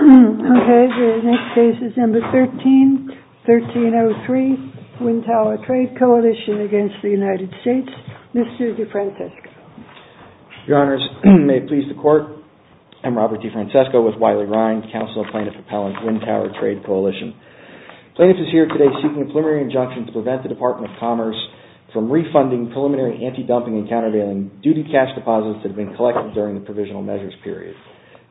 COALITION V. UNITED STATES MR. DE FRANCESCO. Your Honors, may it please the Court, I'm Robert DeFrancesco with Wiley-Rind, counsel of plaintiff appellant, Wind Tower Trade Coalition. Plaintiff is here today seeking a preliminary injunction to prevent the Department of Commerce from refunding preliminary anti-dumping and countervailing duty cash deposits that have been collected during the provisional measures period.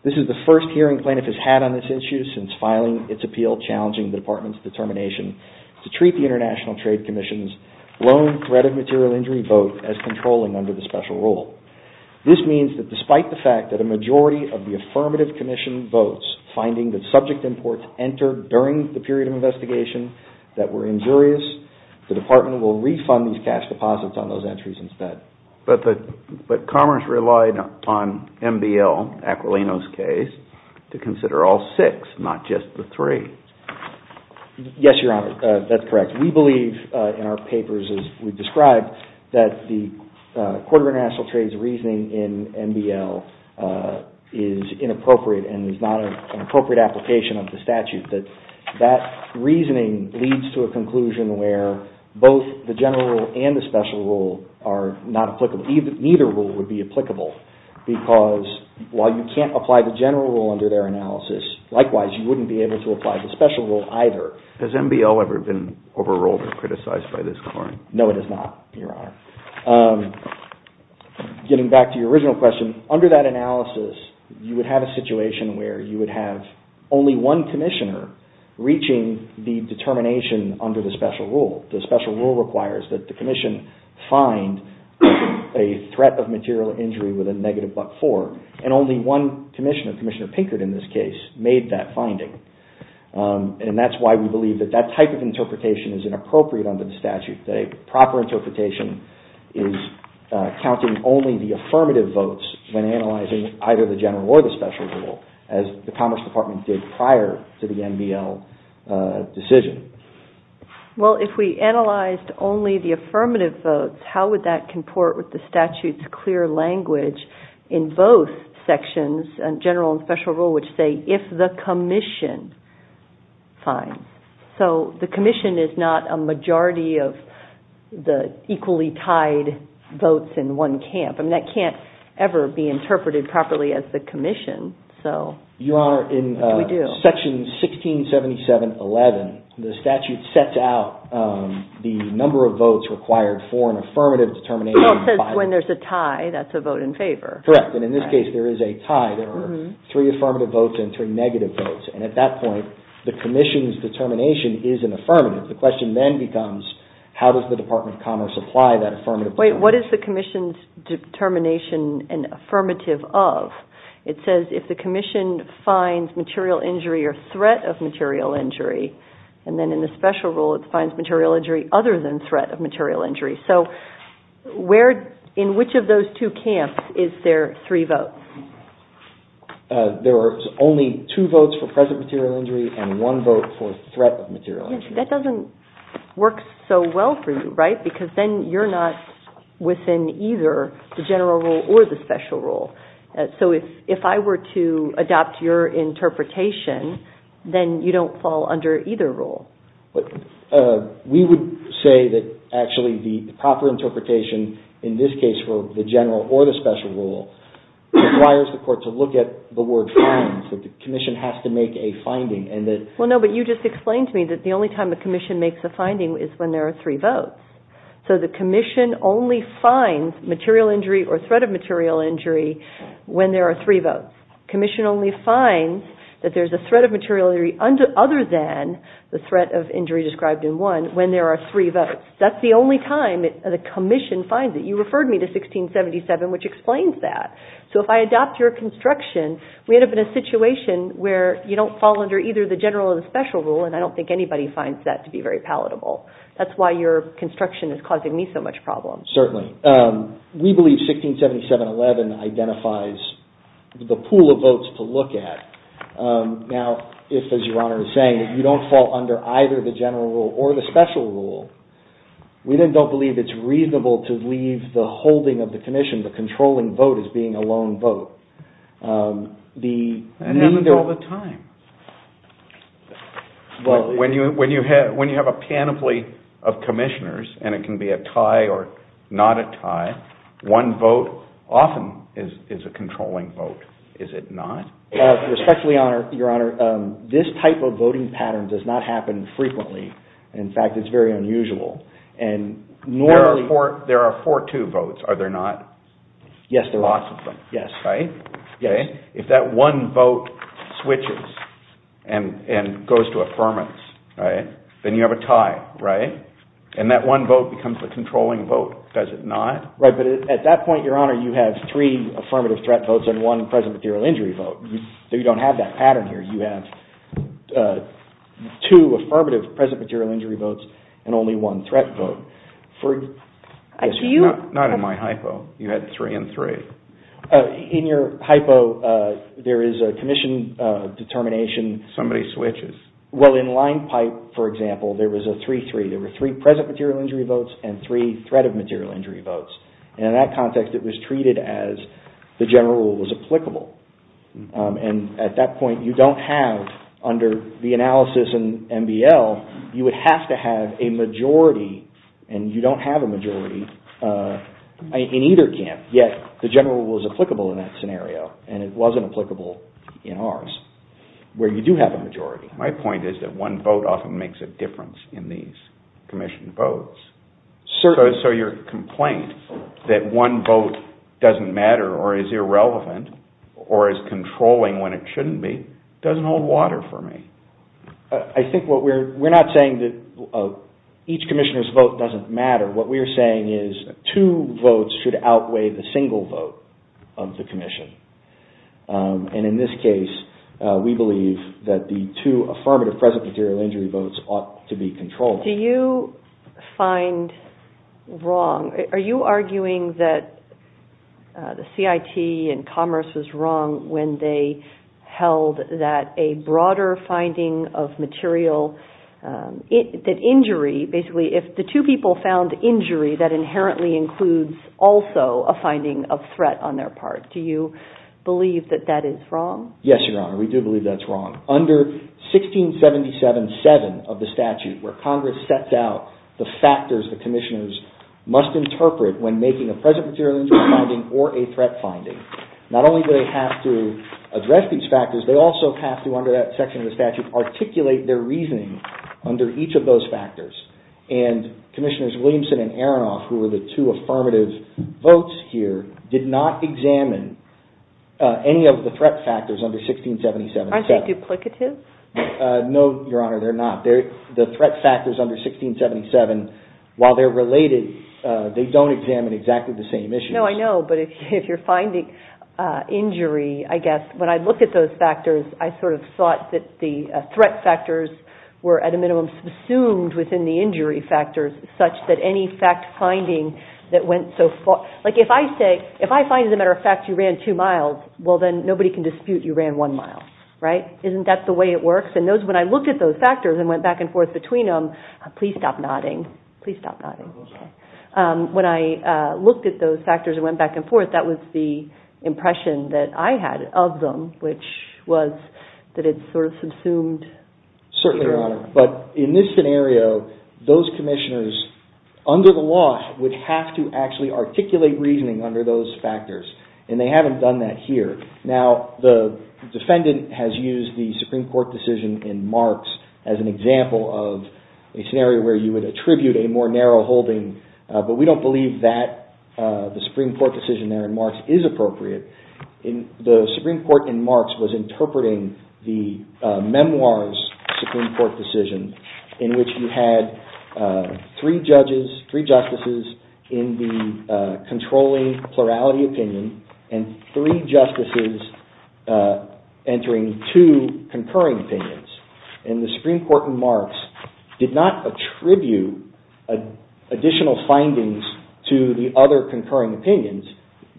This is the first hearing plaintiff has had on this issue since filing its appeal challenging the Department's determination to treat the International Trade Commission's loan threat of material injury vote as controlling under the special rule. This means that despite the fact that a majority of the affirmative commission votes finding that subject imports entered during the period of investigation that were injurious, the Department will refund these cash deposits on those entries instead. WIND TOWER TRADE COALITION V. UNITED STATES But Commerce relied on MBL, Aquilino's case, to consider all six, not just the three. MR. DE FRANCESCO. Yes, Your Honor, that's correct. We believe in our papers as we've described that the Court of International Trade's reasoning in MBL is inappropriate and is not an appropriate application of the statute, that that reasoning leads to a conclusion where both the general rule and the special rule are not applicable. Neither rule would be applicable because while you can't apply the general rule under their analysis, likewise, you wouldn't be able to apply the special rule either. MR. DE FRANCESCO. Has MBL ever been overruled or criticized by this Court? MR. DE FRANCESCO. No, it has not, Your Honor. Getting back to your original question, under that analysis, you would have a situation where you would have only one commissioner reaching the determination under the special rule. The special rule requires that the commission find a threat of material injury with a negative but-for, and only one commissioner, Commissioner Pinkert in this case, made that finding. And that's why we believe that that type of interpretation is inappropriate under the statute. The proper interpretation is counting only the affirmative votes when analyzing either the general or the special rule, as the Commerce Department did prior to the MBL decision. GOTTLIEB. Well, if we analyzed only the affirmative votes, how would that comport with the statute's clear language in both sections, general and special rule, which say, if the commission finds. So the commission is not a majority of the equally tied votes in one camp. I mean, that can't ever be interpreted properly as the commission. So. MR. FRANKLIN. Your Honor, in Section 1677-11, the statute sets out the number of votes required for an affirmative determination. GOTTLIEB. Well, it says when there's a tie, that's a vote in favor. MR. FRANKLIN. Correct. And in this case, there is a tie. There are three affirmative votes and three negative votes. And at that point, the commission's determination is an affirmative. The question then becomes, how does the Department of Commerce apply that affirmative determination? What is the commission's determination an affirmative of? It says if the commission finds material injury or threat of material injury, and then in the special rule, it finds material injury other than threat of material injury. So where, in which of those two camps is there three votes? MR. FRANKLIN. There are only two votes for present material injury and one vote for threat of material injury. MS. GOTTLIEB. And that's within either the general rule or the special rule. So if I were to adopt your interpretation, then you don't fall under either rule. MR. FRANKLIN. But we would say that actually the proper interpretation in this case for the general or the special rule requires the court to look at the word find, so the commission has to make a finding. MS. GOTTLIEB. Well, no. But you just explained to me that the only time the commission makes a finding is when there are three votes. So the commission only finds material injury or threat of material injury when there are three votes. The commission only finds that there's a threat of material injury other than the threat of injury described in one when there are three votes. That's the only time the commission finds it. You referred me to 1677, which explains that. So if I adopt your construction, we end up in a situation where you don't fall under either the general or the special rule, and I don't think anybody finds that to be very palatable. That's why your construction is causing me so much problem. FRANKLIN. Certainly. We believe 1677.11 identifies the pool of votes to look at. Now, if, as Your Honor is saying, you don't fall under either the general rule or the special rule, we then don't believe it's reasonable to leave the holding of the commission, the controlling vote, as being a lone vote. The need to MR. GOTTLIEB. That happens all the time. When you have a panoply of commissioners, and it can be a tie or not a tie, one vote often is a controlling vote. Is it not? FRANKLIN. Respectfully, Your Honor, this type of voting pattern does not happen frequently. In fact, it's very unusual, and normally— MR. GOTTLIEB. There are 4-2 votes, are there not? FRANKLIN. Yes, there are. MR. GOTTLIEB. Lots of them, right? FRANKLIN. Yes. GOTTLIEB. If one vote switches and goes to affirmance, then you have a tie, right? And that one vote becomes the controlling vote, does it not? MR. FRANKLIN. Right, but at that point, Your Honor, you have three affirmative threat votes and one present material injury vote. You don't have that pattern here. You have two affirmative present material injury votes and only one threat vote. MR. GOTTLIEB. Do you— MR. GOTTLIEB. Not in my hypo, you had three and three. MR. FRANKLIN. MR. You have a three and three determination. MR. GOTTLIEB. Somebody switches. MR. FRANKLIN. Well, in line pipe, for example, there was a three, three. There were three present material injury votes and three threat of material injury votes. And in that context, it was treated as the general rule was applicable. And at that point, you don't have under the analysis in MBL, you would have to have a majority and you don't have a majority in either camp. Yet the general rule is applicable in that scenario and it wasn't applicable in ours where you do have a majority. MR. GOTTLIEB. My point is that one vote often makes a difference in these commissioned votes. FRANKLIN. Certainly. MR. GOTTLIEB. So your complaint that one vote doesn't matter or is irrelevant or is controlling when it shouldn't be doesn't hold water for me. MR. FRANKLIN. I think what we're—we're not saying that each commissioner's vote doesn't matter. What we're saying is two votes should outweigh the single vote of the commission. And in this case, we believe that the two affirmative present material injury votes MS. GOTTLIEB. Do you find wrong—are you arguing that the CIT and Commerce was wrong when they held that a broader finding of material—that injury—basically if the two people found injury that inherently includes also a finding of threat on their part. Do you believe that that is wrong? MR. FRANKLIN. Yes, Your Honor. We do believe that's wrong. Under 1677-7 of the statute where Congress sets out the factors the commissioners must interpret when making a present material injury finding or a threat finding, not only do they have to address these factors, they also have to, under that section of the statute, articulate their reasoning under each of those factors. And Commissioners Williamson and Aronoff, who were the two affirmative votes here, did not examine any of the threat factors under 1677-7. MS. GOTTLIEB. Aren't they duplicative? MR. FRANKLIN. No, Your Honor, they're not. They're—the threat factors under 1677, while they're related, they don't examine exactly the same issues. MS. Well, in terms of the injury, I guess, when I looked at those factors, I sort of thought that the threat factors were, at a minimum, subsumed within the injury factors such that any fact finding that went so far—like, if I say, if I find, as a matter of fact, you ran two miles, well, then nobody can dispute you ran one mile, right? Isn't that the way it works? And those—when I looked at those factors and went back and forth between them—please stop nodding. Please stop nodding. MR. FRANKLIN. Okay. MS. I mean, I'm not sure that I had of them, which was that it sort of subsumed— MR. FRANKLIN. Certainly, Your Honor. But in this scenario, those commissioners, under the law, would have to actually articulate reasoning under those factors. And they haven't done that here. Now, the defendant has used the Supreme Court decision in Marx as an example of a scenario where you would attribute a more narrow holding. But we don't believe that the Supreme Court decision there in Marx is appropriate. The Supreme Court in Marx was interpreting the memoirs Supreme Court decision in which you had three judges, three justices, in the controlling plurality opinion and three justices entering two concurring opinions. And the Supreme Court in Marx did not attribute additional findings to the other concurring opinions.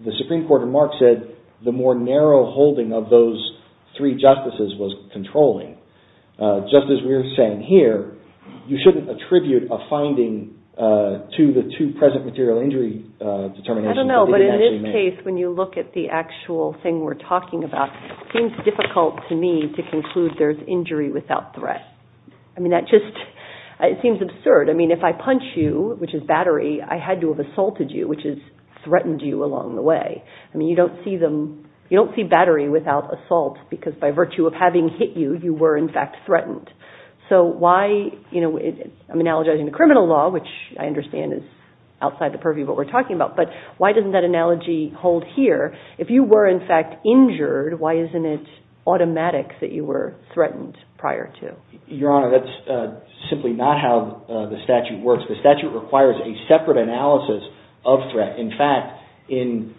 The Supreme Court in Marx said the more narrow holding of those three justices was controlling. Just as we're saying here, you shouldn't attribute a finding to the two present material injury determinations. MS. I don't know. But in this case, when you look at the actual thing we're talking about, it seems difficult to me to conclude there's injury without threat. I mean, that just—it seems absurd. I mean, if I punch you, which is battery, I had to have assaulted you, which is threatened you along the way. I mean, you don't see them—you don't see battery without assault because by virtue of having hit you, you were in fact threatened. So why—I'm analogizing the criminal law, which I understand is outside the purview of what we're talking about. But why doesn't that analogy hold here? If you were in fact injured, why isn't it automatic that you were threatened prior to? MR. Your Honor, that's simply not how the statute works. The statute requires a separate analysis of threat. In fact, in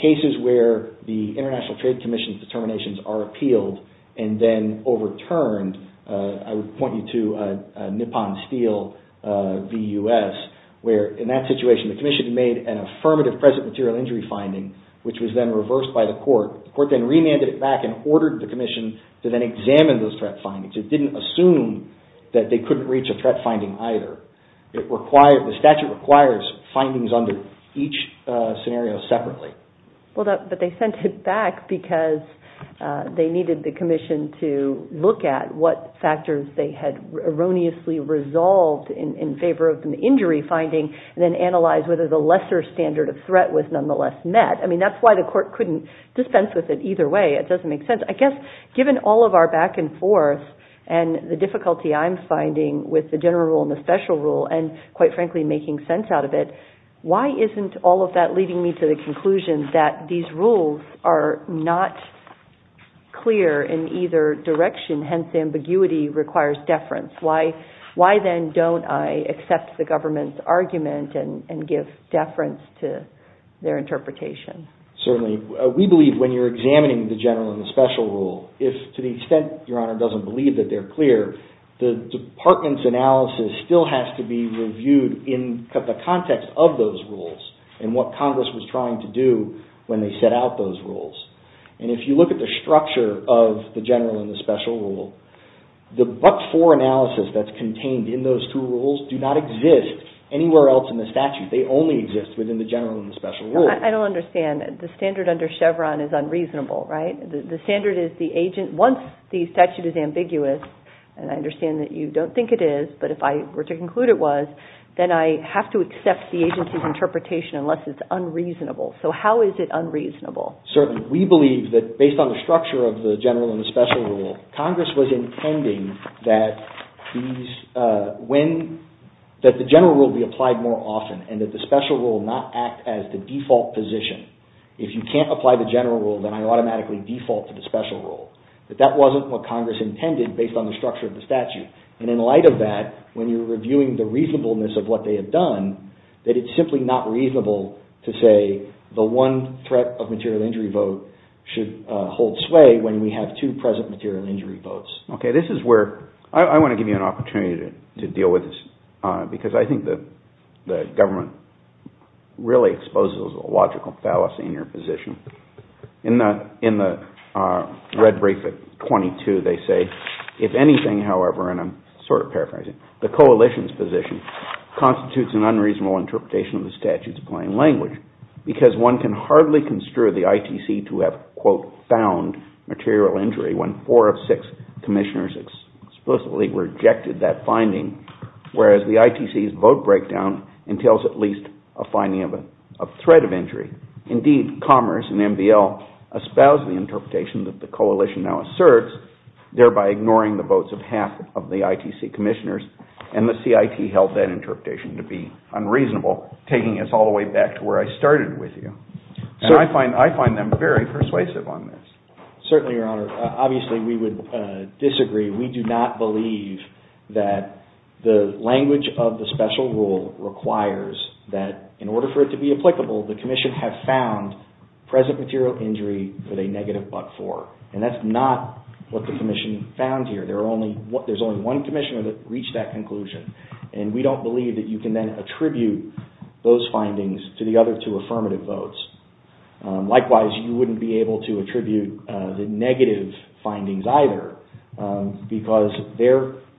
cases where the International Trade Commission's determinations are appealed and then overturned, I would point you to Nippon Steel v. U.S., where in that situation the commission made an affirmative present material injury finding, which was then reversed by the court. The court then remanded it back and ordered the commission to then examine those threat findings. It didn't assume that they couldn't reach a threat finding either. It required—the statute requires findings under each scenario separately. Well, but they sent it back because they needed the commission to look at what factors they had erroneously resolved in favor of an injury finding and then analyze whether the lesser standard of threat was nonetheless met. I mean, that's why the court couldn't dispense with it either way. It doesn't make sense. I guess given all of our back and forth and the difficulty I'm finding with the general rule and the special rule and, quite frankly, making sense out of it, why isn't all of that leading me to the conclusion that these rules are not clear in either direction, hence ambiguity requires deference? Why then don't I accept the government's argument and give deference to their interpretation? Certainly. We believe when you're examining the general and the special rule, if to the extent your analysis still has to be reviewed in the context of those rules and what Congress was trying to do when they set out those rules. And if you look at the structure of the general and the special rule, the but-for analysis that's contained in those two rules do not exist anywhere else in the statute. They only exist within the general and the special rule. I don't understand. The standard under Chevron is unreasonable, right? The standard is the agent—once the statute is ambiguous, and I understand that you don't think it is, but if I were to conclude it was, then I have to accept the agency's interpretation unless it's unreasonable. So how is it unreasonable? Certainly. We believe that based on the structure of the general and the special rule, Congress was intending that the general rule be applied more often and that the special rule not act as the default position. If you can't apply the general rule, then I automatically default to the special rule. But that wasn't what Congress intended based on the structure of the statute. And in light of that, when you're reviewing the reasonableness of what they have done, that it's simply not reasonable to say the one threat of material injury vote should hold sway when we have two present material injury votes. Okay. This is where I want to give you an opportunity to deal with this because I think the government really exposes a logical fallacy in your position. In the red brief at 22, they say, if anything, however, and I'm sort of paraphrasing, the coalition's position constitutes an unreasonable interpretation of the statute's plain language because one can hardly construe the ITC to have, quote, found material injury when four of six commissioners explicitly rejected that finding, whereas the ITC's vote breakdown entails that. Indeed, Commerce and MBL espouse the interpretation that the coalition now asserts, thereby ignoring the votes of half of the ITC commissioners, and the CIT held that interpretation to be unreasonable, taking us all the way back to where I started with you. I find them very persuasive on this. Certainly, Your Honor. Obviously, we would disagree. We do not believe that the language of the special rule requires that in order for it to be applicable, the commission have found present material injury with a negative but for, and that's not what the commission found here. There's only one commissioner that reached that conclusion, and we don't believe that you can then attribute those findings to the other two affirmative votes. Likewise, you wouldn't be able to attribute the negative findings either because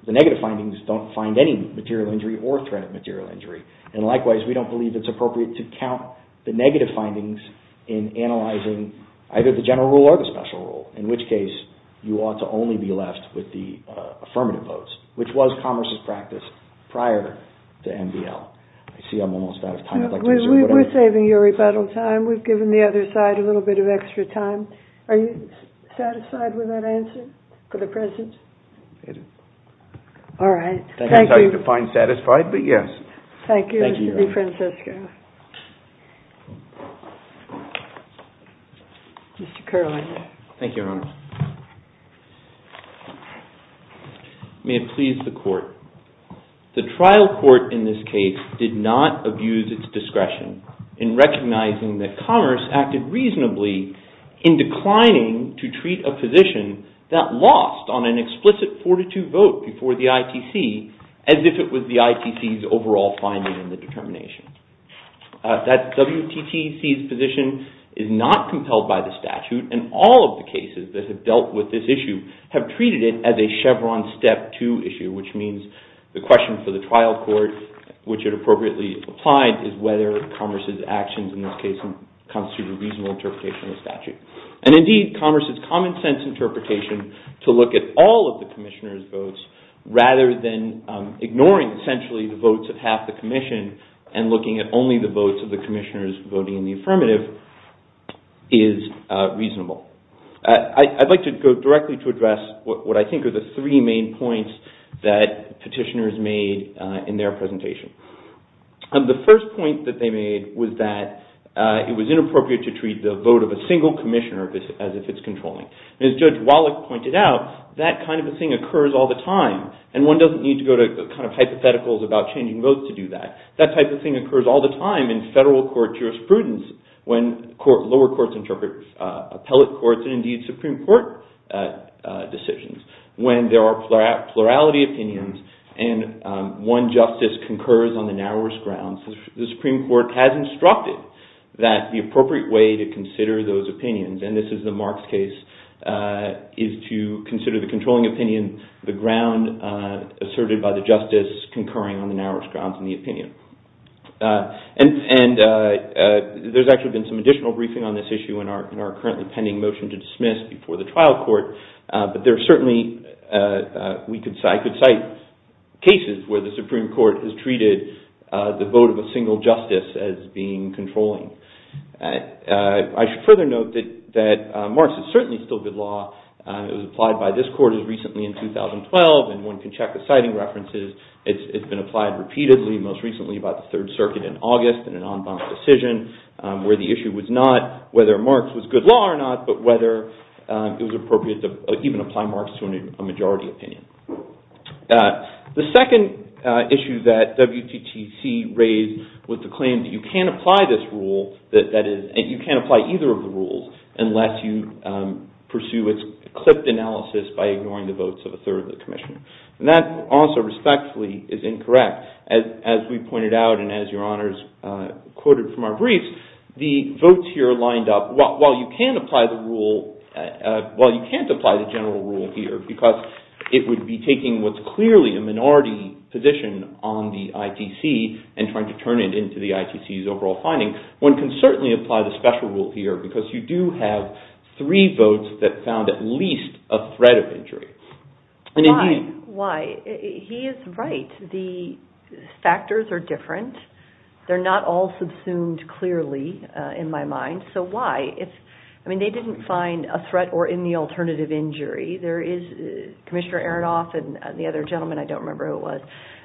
the negative findings don't find any material injury or threat of material injury, and likewise, we don't believe it's appropriate to count the negative findings in analyzing either the general rule or the special rule, in which case, you ought to only be left with the affirmative votes, which was Commerce's practice prior to MBL. I see I'm almost out of time. I'd like to... We're saving you a rebuttal time. We've given the other side a little bit of extra time. Are you satisfied with that answer for the present? All right. Thank you. I can tell you to find satisfied, but yes. Thank you, Mr. DeFrancisco. Mr. Kerlin. Thank you, Your Honor. May it please the Court. The trial court in this case did not abuse its discretion in recognizing that Commerce acted reasonably in declining to treat a position that lost on an explicit 42 vote before the overall finding and the determination. That WTTC's position is not compelled by the statute, and all of the cases that have dealt with this issue have treated it as a Chevron Step 2 issue, which means the question for the trial court, which it appropriately applied, is whether Commerce's actions in this case constitute a reasonable interpretation of the statute. And indeed, Commerce's common sense interpretation to look at all of the Commissioner's votes rather than ignoring, essentially, the votes of half the Commission and looking at only the votes of the Commissioners voting in the affirmative is reasonable. I'd like to go directly to address what I think are the three main points that petitioners made in their presentation. The first point that they made was that it was inappropriate to treat the vote of a single Commissioner as if it's controlling. As Judge Wallach pointed out, that kind of a thing occurs all the time, and one doesn't need to go to kind of hypotheticals about changing votes to do that. That type of thing occurs all the time in federal court jurisprudence when lower courts interpret appellate courts and, indeed, Supreme Court decisions. When there are plurality opinions and one justice concurs on the narrowest grounds, the Supreme Court has instructed that the appropriate way to consider those opinions and this is the Marks case, is to consider the controlling opinion the ground asserted by the justice concurring on the narrowest grounds in the opinion. And there's actually been some additional briefing on this issue in our currently pending motion to dismiss before the trial court, but there are certainly, I could cite cases where the Supreme Court has treated the vote of a single justice as being controlling. I should further note that Marks is certainly still good law. It was applied by this court as recently in 2012 and one can check the citing references. It's been applied repeatedly, most recently by the Third Circuit in August in an en banc decision where the issue was not whether Marks was good law or not, but whether it was appropriate to even apply Marks to a majority opinion. The second issue that WTTC raised was the claim that you can't apply this rule and you can't apply either of the rules unless you pursue its clipped analysis by ignoring the votes of a third of the commission. And that also respectfully is incorrect. As we pointed out and as your honors quoted from our briefs, the votes here are lined up. While you can't apply the general rule here because it would be taking what's clearly a minority position on the ITC and trying to turn it into the ITC's overall finding, one can certainly apply the special rule here because you do have three votes that found at least a threat of injury. Why? He is right. The factors are different. They're not all subsumed clearly in my mind, so why? They didn't find a threat or any alternative injury. Commissioner Aronoff and the other gentleman, I don't remember who it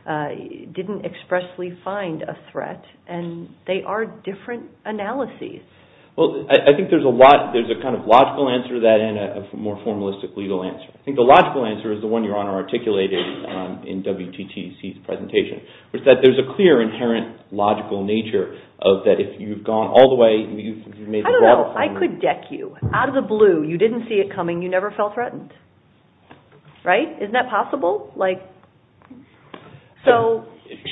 was, didn't expressly find a threat and they are different analyses. Well, I think there's a kind of logical answer to that and a more formalistic legal answer. I think the logical answer is the one your honor articulated in WTTC's presentation. There's a clear inherent logical nature of that if you've gone all the way, I don't know, I could deck you. Out of the blue, you didn't see it coming, you never felt threatened. Right? Isn't that possible?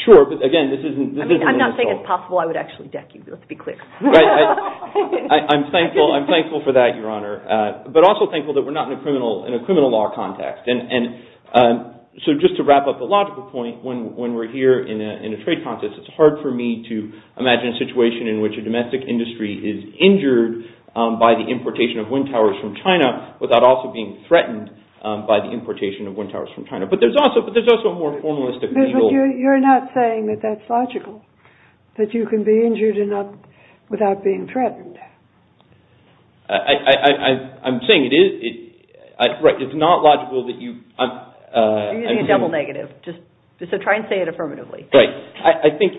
Sure, but again, this isn't... I'm not saying it's possible, I would actually deck you, let's be clear. I'm thankful for that, your honor. But also thankful that we're not in a criminal law context. So just to wrap up the logical point, when we're here in a trade contest, it's hard for me to imagine a situation in which a domestic industry is injured by the importation of wind towers from China without also being threatened by the importation of wind towers from China. But there's also a more formalistic legal... But you're not saying that that's logical, that you can be injured without being threatened. I'm saying it is... Right, it's not logical that you... You're using a double negative, so try and say it affirmatively. Right, I think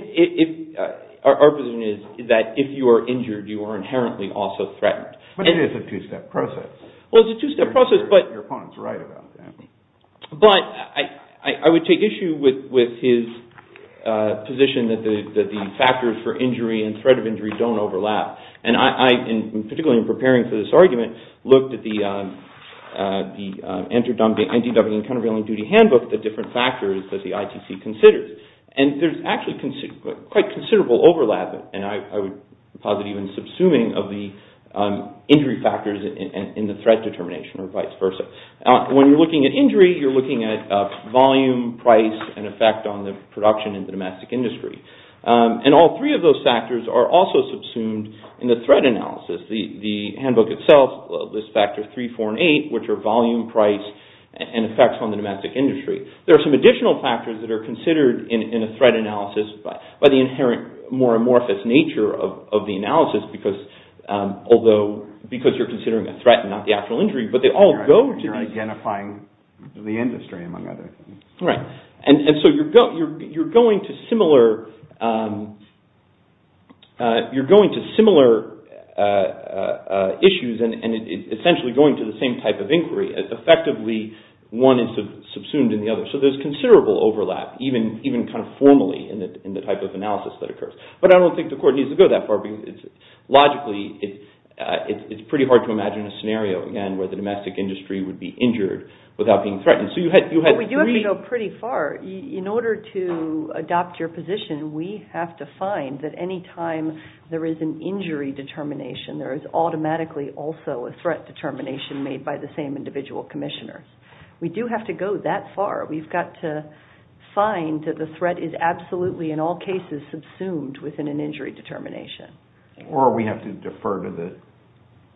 our position is that if you are injured, you are inherently also threatened. But it is a two-step process. Well, it's a two-step process, but... Your opponent's right about that. But I would take issue with his position that the factors for injury and threat of injury don't overlap. And I, particularly in preparing for this argument, looked at the NDW and countervailing duty handbook, the different factors that the ITC considers. And there's actually quite considerable overlap, and I would posit even subsuming of the injury factors in the threat determination or vice versa. When you're looking at injury, you're looking at volume, price, and effect on the production in the domestic industry. And all three of those factors are also subsumed in the threat analysis. The handbook itself lists factors 3, 4, and 8, which are volume, price, and effects on the domestic industry. There are some additional factors that are considered in a threat analysis by the inherent, more amorphous nature of the analysis, because you're considering a threat and not the actual injury. But they all go to... You're identifying the industry, among other things. Right. And so you're going to similar... You're going to similar issues and essentially going to the same type of inquiry as effectively one is subsumed in the other. So there's considerable overlap, even kind of formally, in the type of analysis that occurs. But I don't think the court needs to go that far. Logically, it's pretty hard to imagine a scenario, again, where the domestic industry would be injured without being threatened. But we do have to go pretty far. In order to adopt your position, we have to find that any time there is an injury determination, there is automatically also a threat determination made by the same individual commissioner. We do have to go that far. We've got to find that the threat is absolutely, in all cases, subsumed within an injury determination. Or we have to defer to the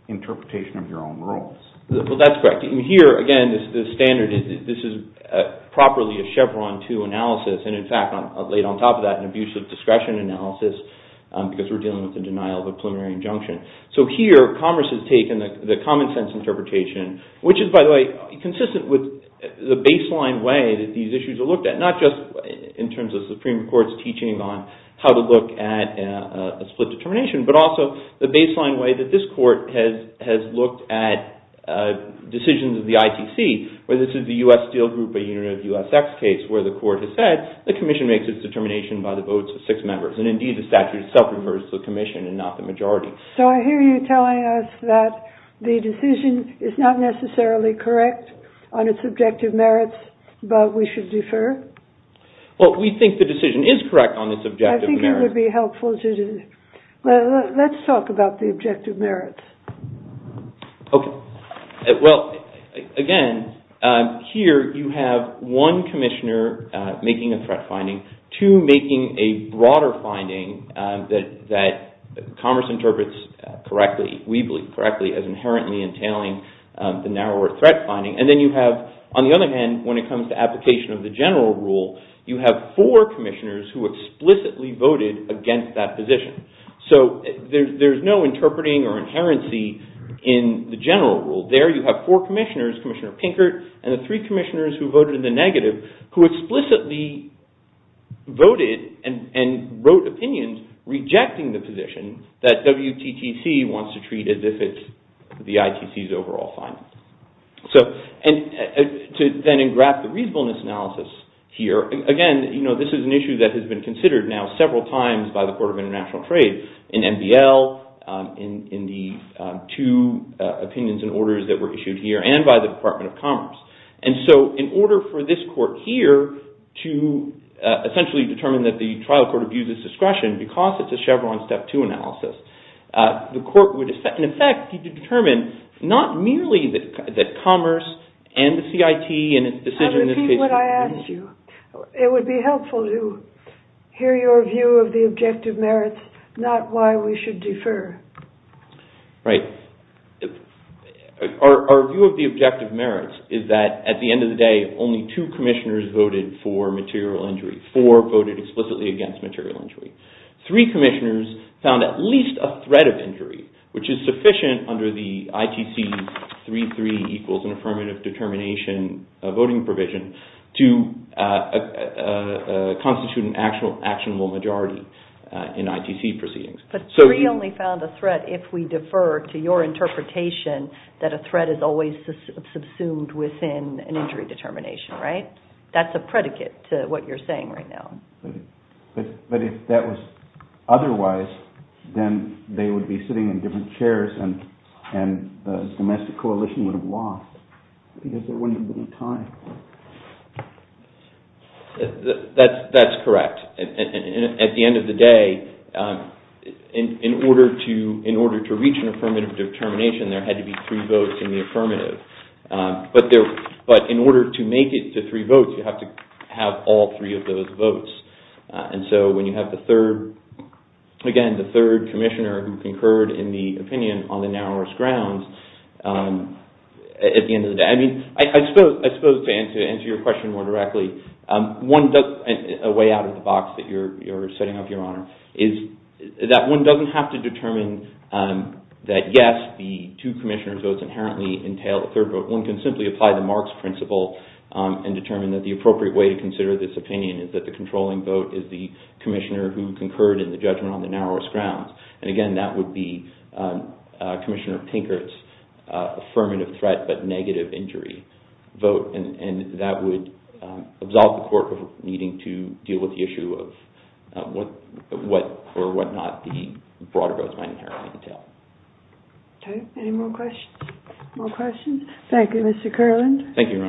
interpretation of your own rules. Well, that's correct. And here, again, the standard, this is properly a Chevron 2 analysis. And in fact, I've laid on top of that an abusive discretion analysis because we're dealing with the denial of a preliminary injunction. So here, Congress has taken the common-sense interpretation, which is, by the way, consistent with the baseline way that these issues are looked at, not just in terms of Supreme Court's teaching on how to look at a split determination, but also the baseline way that this Court has looked at decisions of the ITC, where this is the U.S. Steel Group, a unit of U.S.X. case, where the Court has said the Commission makes its determination by the votes of six members. And indeed, the statute itself refers to the Commission and not the majority. So I hear you telling us that the decision is not necessarily correct on its objective merits, but we should defer? Well, we think the decision is correct on its objective merits. I think it would be helpful to... Well, let's talk about the objective merits. Okay. Well, again, here you have one Commissioner making a threat finding, two making a broader finding that Congress interprets correctly, we believe correctly, as inherently entailing the narrower threat finding. And then you have, on the other hand, when it comes to application of the general rule, you have four Commissioners who explicitly voted against that position. So there's no interpreting or inherency in the general rule. There you have four Commissioners, Commissioner Pinkert and the three Commissioners who voted in the negative, who explicitly voted and wrote opinions rejecting the position that WTTC wants to treat as if it's the ITC's overall finding. So to then engraft the reasonableness analysis here, again, this is an issue that has been considered now several times by the Court of International Trade, in NBL, in the two opinions and orders that were issued here and by the Department of Commerce. And so in order for this Court here to essentially determine that the trial court abuses discretion because it's a Chevron Step 2 analysis, the Court would in effect determine not merely that Commerce and the CIT and its decision in this case... I'll repeat what I asked you. It would be helpful to hear your view of the objective merits, not why we should defer. Right. Our view of the objective merits is that at the end of the day only two Commissioners voted for material injury. Four voted explicitly against material injury. Three Commissioners found at least a threat of injury which is sufficient under the ITC 3.3 equals an affirmative determination voting provision to constitute an actionable majority in ITC proceedings. But three only found a threat if we defer to your interpretation that a threat is always subsumed within an injury determination, right? That's a predicate to what you're saying right now. But if that was otherwise then they would be sitting in different chairs and the domestic coalition would have lost because there wouldn't have been time. That's correct. At the end of the day in order to reach an affirmative determination there had to be three votes in the affirmative. But in order to make it to three votes you have to have all three of those votes. And so when you have the third Commissioner who concurred in the opinion on the narrowest grounds at the end of the day I suppose to answer your question more directly a way out of the box that you're setting up, Your Honor is that one doesn't have to determine that yes, the two Commissioners votes inherently entail a third vote. One can simply apply the Marx principle and determine that the appropriate way to consider this opinion is that the controlling vote is the Commissioner who concurred in the judgment on the narrowest grounds. And again, that would be Commissioner Pinkert's affirmative threat but negative injury vote. And that would absolve the Court of needing to deal with the issue of what or what not the broader votes might inherently entail. Any more questions? More questions? Thank you, Mr. Kerland. Thank you,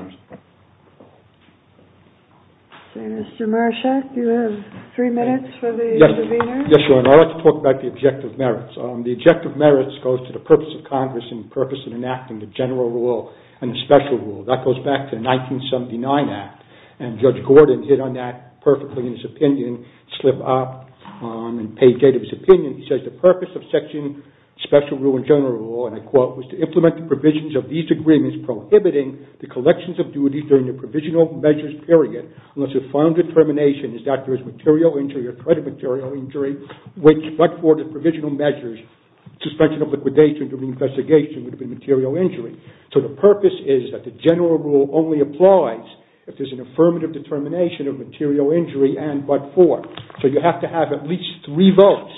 Your Honor. Mr. Marschak, you have three minutes for the Yes, Your Honor. I'd like to talk about the objective merits. The objective merits goes to the purpose of Congress and the purpose of enacting the general rule and the special rule. That goes back to the 1979 Act. And Judge Gordon hit on that perfectly in his opinion slipped up and paid date of his opinion He says the purpose of Section Special Rule and General Rule was to implement the provisions of these agreements prohibiting the collections of duties during the provisional measures period unless the final determination is that there is material injury or threat of material injury which but for the provisional measures suspension of liquidation would have been material injury. So the purpose is that the general rule only applies if there is an affirmative determination of material injury and but for. So you have to have at least three votes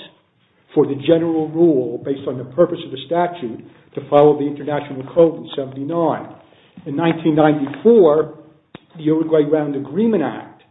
for the general rule based on the purpose of the statute to follow the international code in 1979. In 1994, the Uruguay Round Agreement Act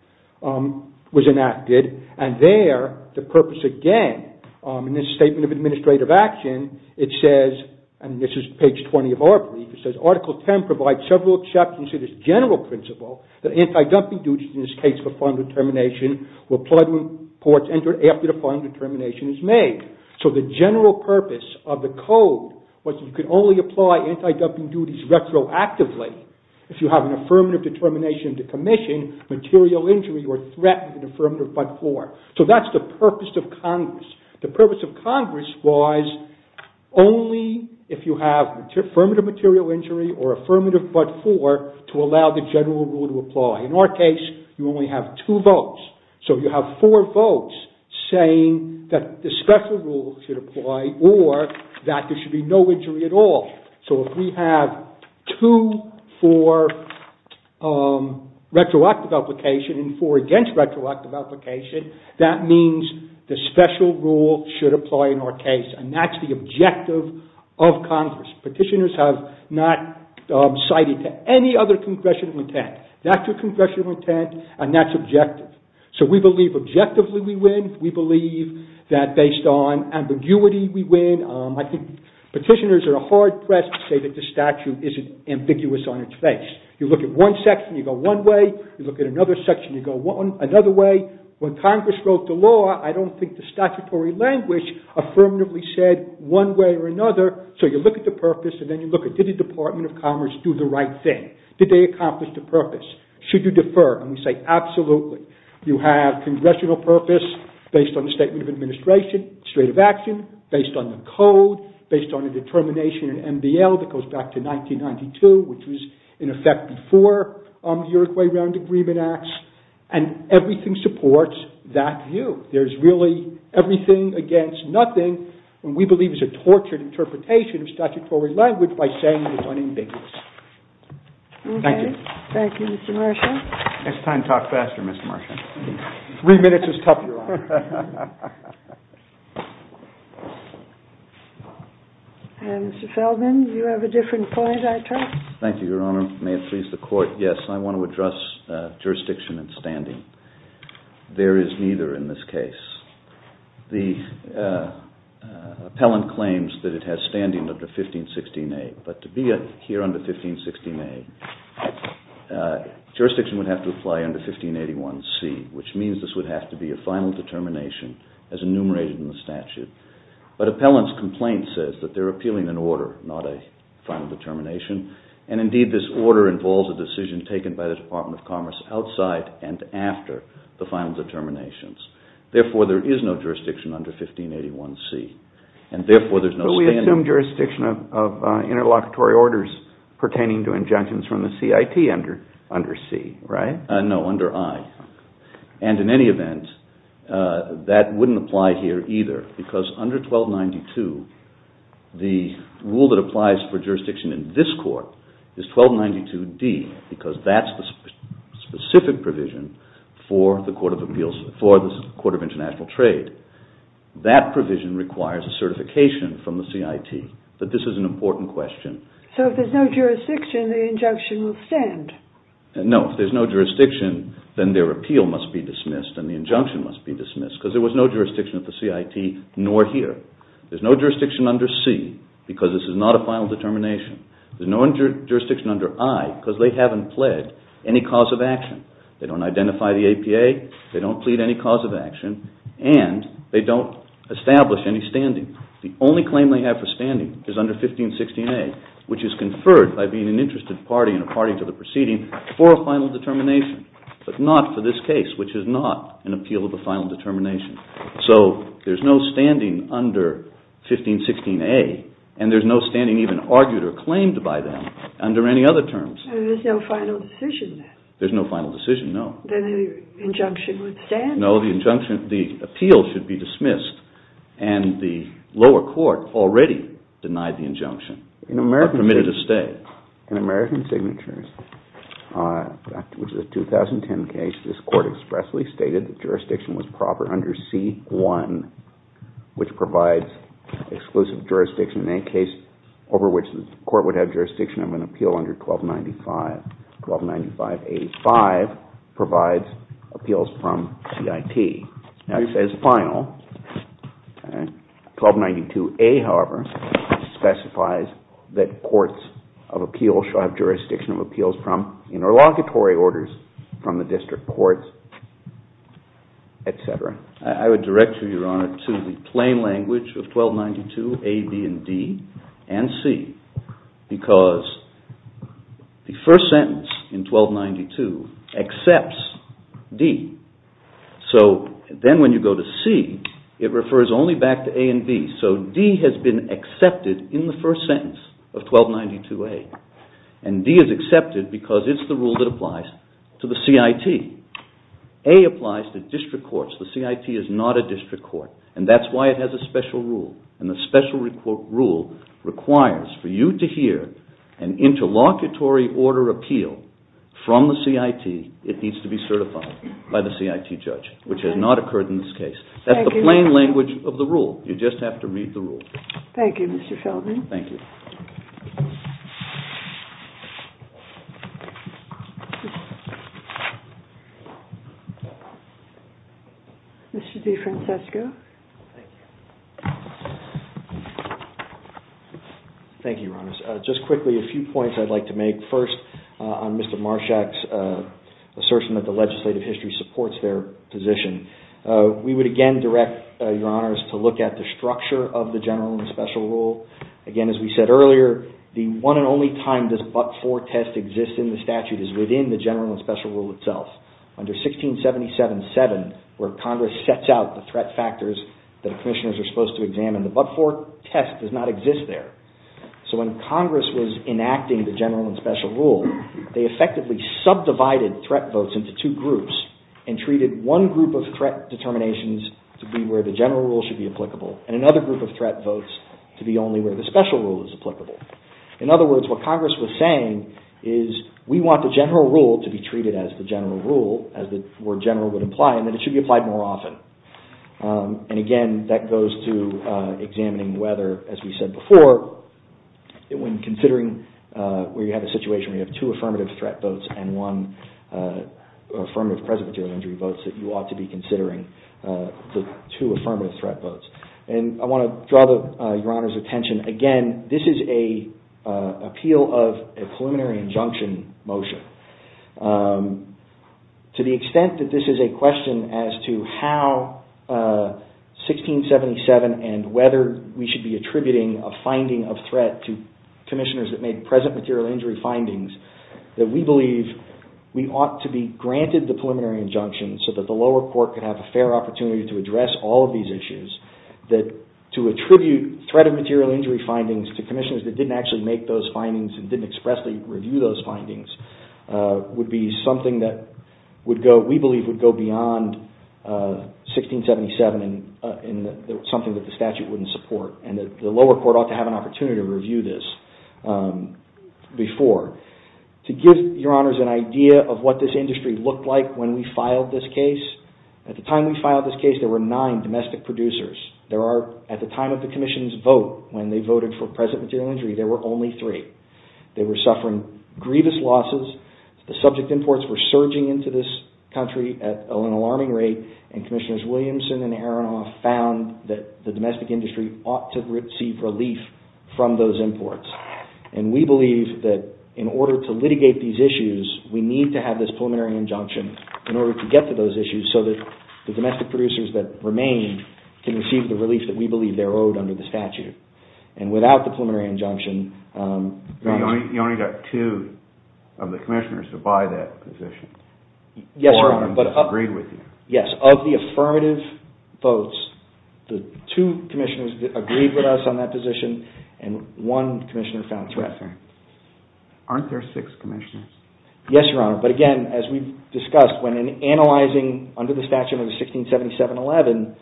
was enacted and there the purpose again in this Statement of Administrative Action, it says and this is page 20 of our brief, it says Article 10 provides several exceptions to this general principle that anti-dumping duties in this case for final determination will apply to reports entered after the final determination is made. So the general purpose of the code was you could only apply anti-dumping duties retroactively if you have an affirmative determination to commission material injury or threat of affirmative but for. So that's the purpose of Congress. The purpose of Congress was only if you have affirmative material injury or affirmative but for to allow the general rule to apply. In our case, you only have two votes. So you have four votes saying that the special rule should apply or that there should be no injury at all. So if we have two for retroactive application and four against retroactive application should apply in our case and that's the objective of Congress. Petitioners have not cited to any other congressional intent. That's a congressional intent and that's objective. So we believe objectively we win. We believe that based on ambiguity we win. I think petitioners are hard pressed to say that the statute isn't ambiguous on its face. You look at one section, you go one way. You look at another section, you go another way. When Congress wrote the law, I don't think the statutory language affirmatively said one way or another. So you look at the purpose and then you look at did the Department of Commerce do the right thing. Did they accomplish the purpose? Should you defer? And we say absolutely. You have congressional purpose based on the statement of administration, straight of action, based on the code, based on the determination in MDL that goes back to 1992, which was in effect before the Uruguay Round Agreement Act and everything supports that view. There's really everything against nothing and we believe it's a tortured interpretation of statutory language by saying it's unambiguous. Thank you. Thank you, Mr. Marcia. It's time to talk faster, Mr. Marcia. Three minutes is tough, Your Honor. And Mr. Feldman, you have a different point, I trust? Thank you, Your Honor. May it please the Court. Yes, I want to address jurisdiction and standing. There is neither in this case. The appellant claims that it has standing under 1516A but to be here under 1516A jurisdiction would have to apply under 1581C, which means this would have to be a final determination as enumerated in the statute. But appellant's complaint says that they're appealing an order not a final determination and indeed this order involves a decision taken by the Department of Commerce outside and after the final determinations. Therefore, there is no jurisdiction under 1581C and therefore there's no standing. But we assume jurisdiction of interlocutory orders pertaining to injunctions from the CIT under C, right? No, under I. And in any event that wouldn't apply here either because under 1292 the rule that applies for jurisdiction in this Court is 1292D because that's the specific provision for the Court of Appeals for the Court of International Trade. That provision requires a certification from the CIT but this is an important question. So if there's no jurisdiction the injunction will stand? No, if there's no jurisdiction then their appeal must be dismissed and the injunction must be dismissed because there was no jurisdiction at the CIT nor here. There's no jurisdiction under C because this is not a final determination. There's no jurisdiction under I because they haven't pled any cause of action. They don't identify the APA, they don't plead any cause of action and they don't establish any standing. The only claim they have for standing is under 1516A which is conferred by being an interested party and a party to the proceeding for a final determination but not for this case which is not an appeal of a final determination. So there's no under 1516A and there's no standing even argued or claimed by them under any other terms. And there's no final decision then? There's no final decision, no. Then the injunction would stand? No, the appeal should be dismissed and the lower court already denied the injunction and permitted it to stay. In American Signatures, which is a 2010 case, this court expressly stated that jurisdiction was proper under 1516C1 which provides exclusive jurisdiction in any case over which the court would have jurisdiction of an appeal under 1295. 1295A5 provides appeals from CIT. Now it says final. 1292A, however, specifies that courts of appeal shall have jurisdiction of appeals from interlocutory orders from the district courts, etc. I would direct you, Your Honor, to the plain language of 1292A, B, and D and C because the first sentence in 1292 accepts D. So then when you go to C, it refers only back to A and B. So D has been accepted in the first sentence of 1292A and D is accepted because it's the rule that applies to the CIT. A applies to district courts. The CIT is not a district court and that's why it has a special rule. And the special rule requires for you to hear an interlocutory order appeal from the CIT. It needs to be certified by the CIT judge, which has not occurred in this case. That's the plain language of the rule. You just have to read the rule. Thank you, Mr. Feldman. Mr. DeFrancesco. Thank you. Thank you, Your Honor. Just quickly, a few points I'd like to make. First, on Mr. Marshak's assertion that the legislative history supports their position. We would again direct Your Honors to look at the structure of the general and special rule. Again, as we said earlier, the one and only time this but-for test exists in the general and special rule itself, under 1677-7, where Congress sets out the threat factors that commissioners are supposed to examine. The but-for test does not exist there. So when Congress was enacting the general and special rule, they effectively subdivided threat votes into two groups and treated one group of threat determinations to be where the general rule should be applicable and another group of threat votes to be only where the special rule is applicable. In other words, what Congress was saying is, we want the general rule to be treated as the general rule, as the word general would imply, and that it should be applied more often. And again, that goes to examining whether, as we said before, when considering where you have a situation where you have two affirmative threat votes and one affirmative present material injury votes, that you ought to be considering the two affirmative threat votes. And I want to draw Your Honor's attention, again, this is an appeal of a preliminary injunction motion. To the extent that this is a question as to how 1677 and whether we should be attributing a finding of threat to commissioners that made present material injury findings, that we believe we ought to be granted the preliminary injunction so that the lower court could have a fair opportunity to address all of these issues, that to attribute threat of material injury findings to commissioners that didn't actually make those findings and didn't expressly review those findings would be something that we believe would go beyond 1677 and something that the statute wouldn't support. And the lower court ought to have an opportunity to review this before. To give Your Honors an idea of what this industry looked like when we filed this case, at the time we filed this case there were nine domestic producers. At the time of the commission's vote, when they voted for present material injury, there were only three. They were suffering grievous losses. The subject imports were surging into this country at an alarming rate and Commissioners Williamson and Aronoff found that the domestic industry ought to receive relief from those imports. And we believe that in order to litigate these issues we need to have this preliminary injunction in order to get to those issues so that the domestic producers that remained can receive the relief that we believe they're owed under the statute. And without the preliminary injunction You only got two of the commissioners to buy that position. Yes, Your Honor. Of the affirmative votes, the two commissioners agreed with us on that position and one commissioner found threat. Aren't there six commissioners? Yes, Your Honor. But again, as we've discussed, when analyzing under the statute of 1677-11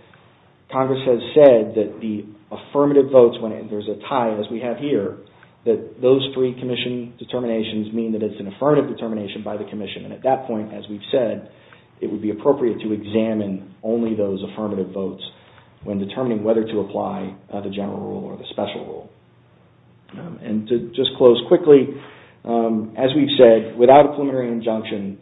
Congress has said that the affirmative votes when there's a tie, as we have here, that those three commission determinations mean that it's an affirmative determination by the commission. And at that point, as we've said, it would be appropriate to examine only those affirmative votes when determining whether to apply the general rule or the special rule. And to just close quickly as we've said, without a preliminary injunction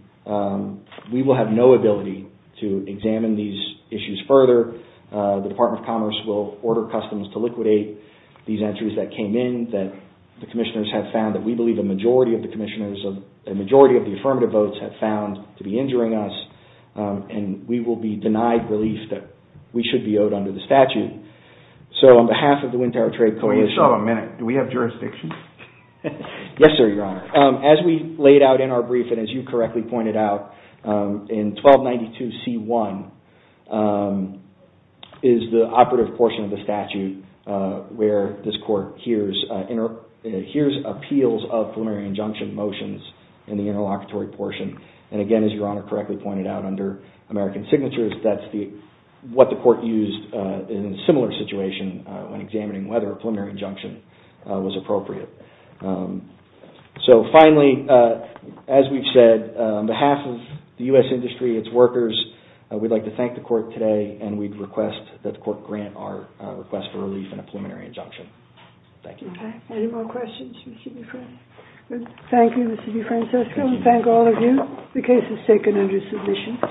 we will have no ability to examine these issues further. The Department of Commerce will order Customs to liquidate these entries that came in that the commissioners have found that we believe a majority of the affirmative votes have found to be injuring us and we will be denied relief that we should be owed under the statute. So on behalf of the Wind Tower Trade Coalition Wait a minute. Do we have jurisdiction? Yes, sir, Your Honor. As we laid out in our brief and as you correctly pointed out, in 1292-C1 is the operative portion of the statute where this court hears appeals of preliminary injunction motions in the interlocutory portion and again, as Your Honor correctly pointed out, under a similar situation when examining whether a preliminary injunction was appropriate. So finally, as we've said on behalf of the U.S. industry, its workers we'd like to thank the court today and we'd request that the court grant our request for relief in a preliminary injunction. Thank you. Any more questions? Thank you, Mr. DeFrancisco and thank all of you. The case is taken under submission.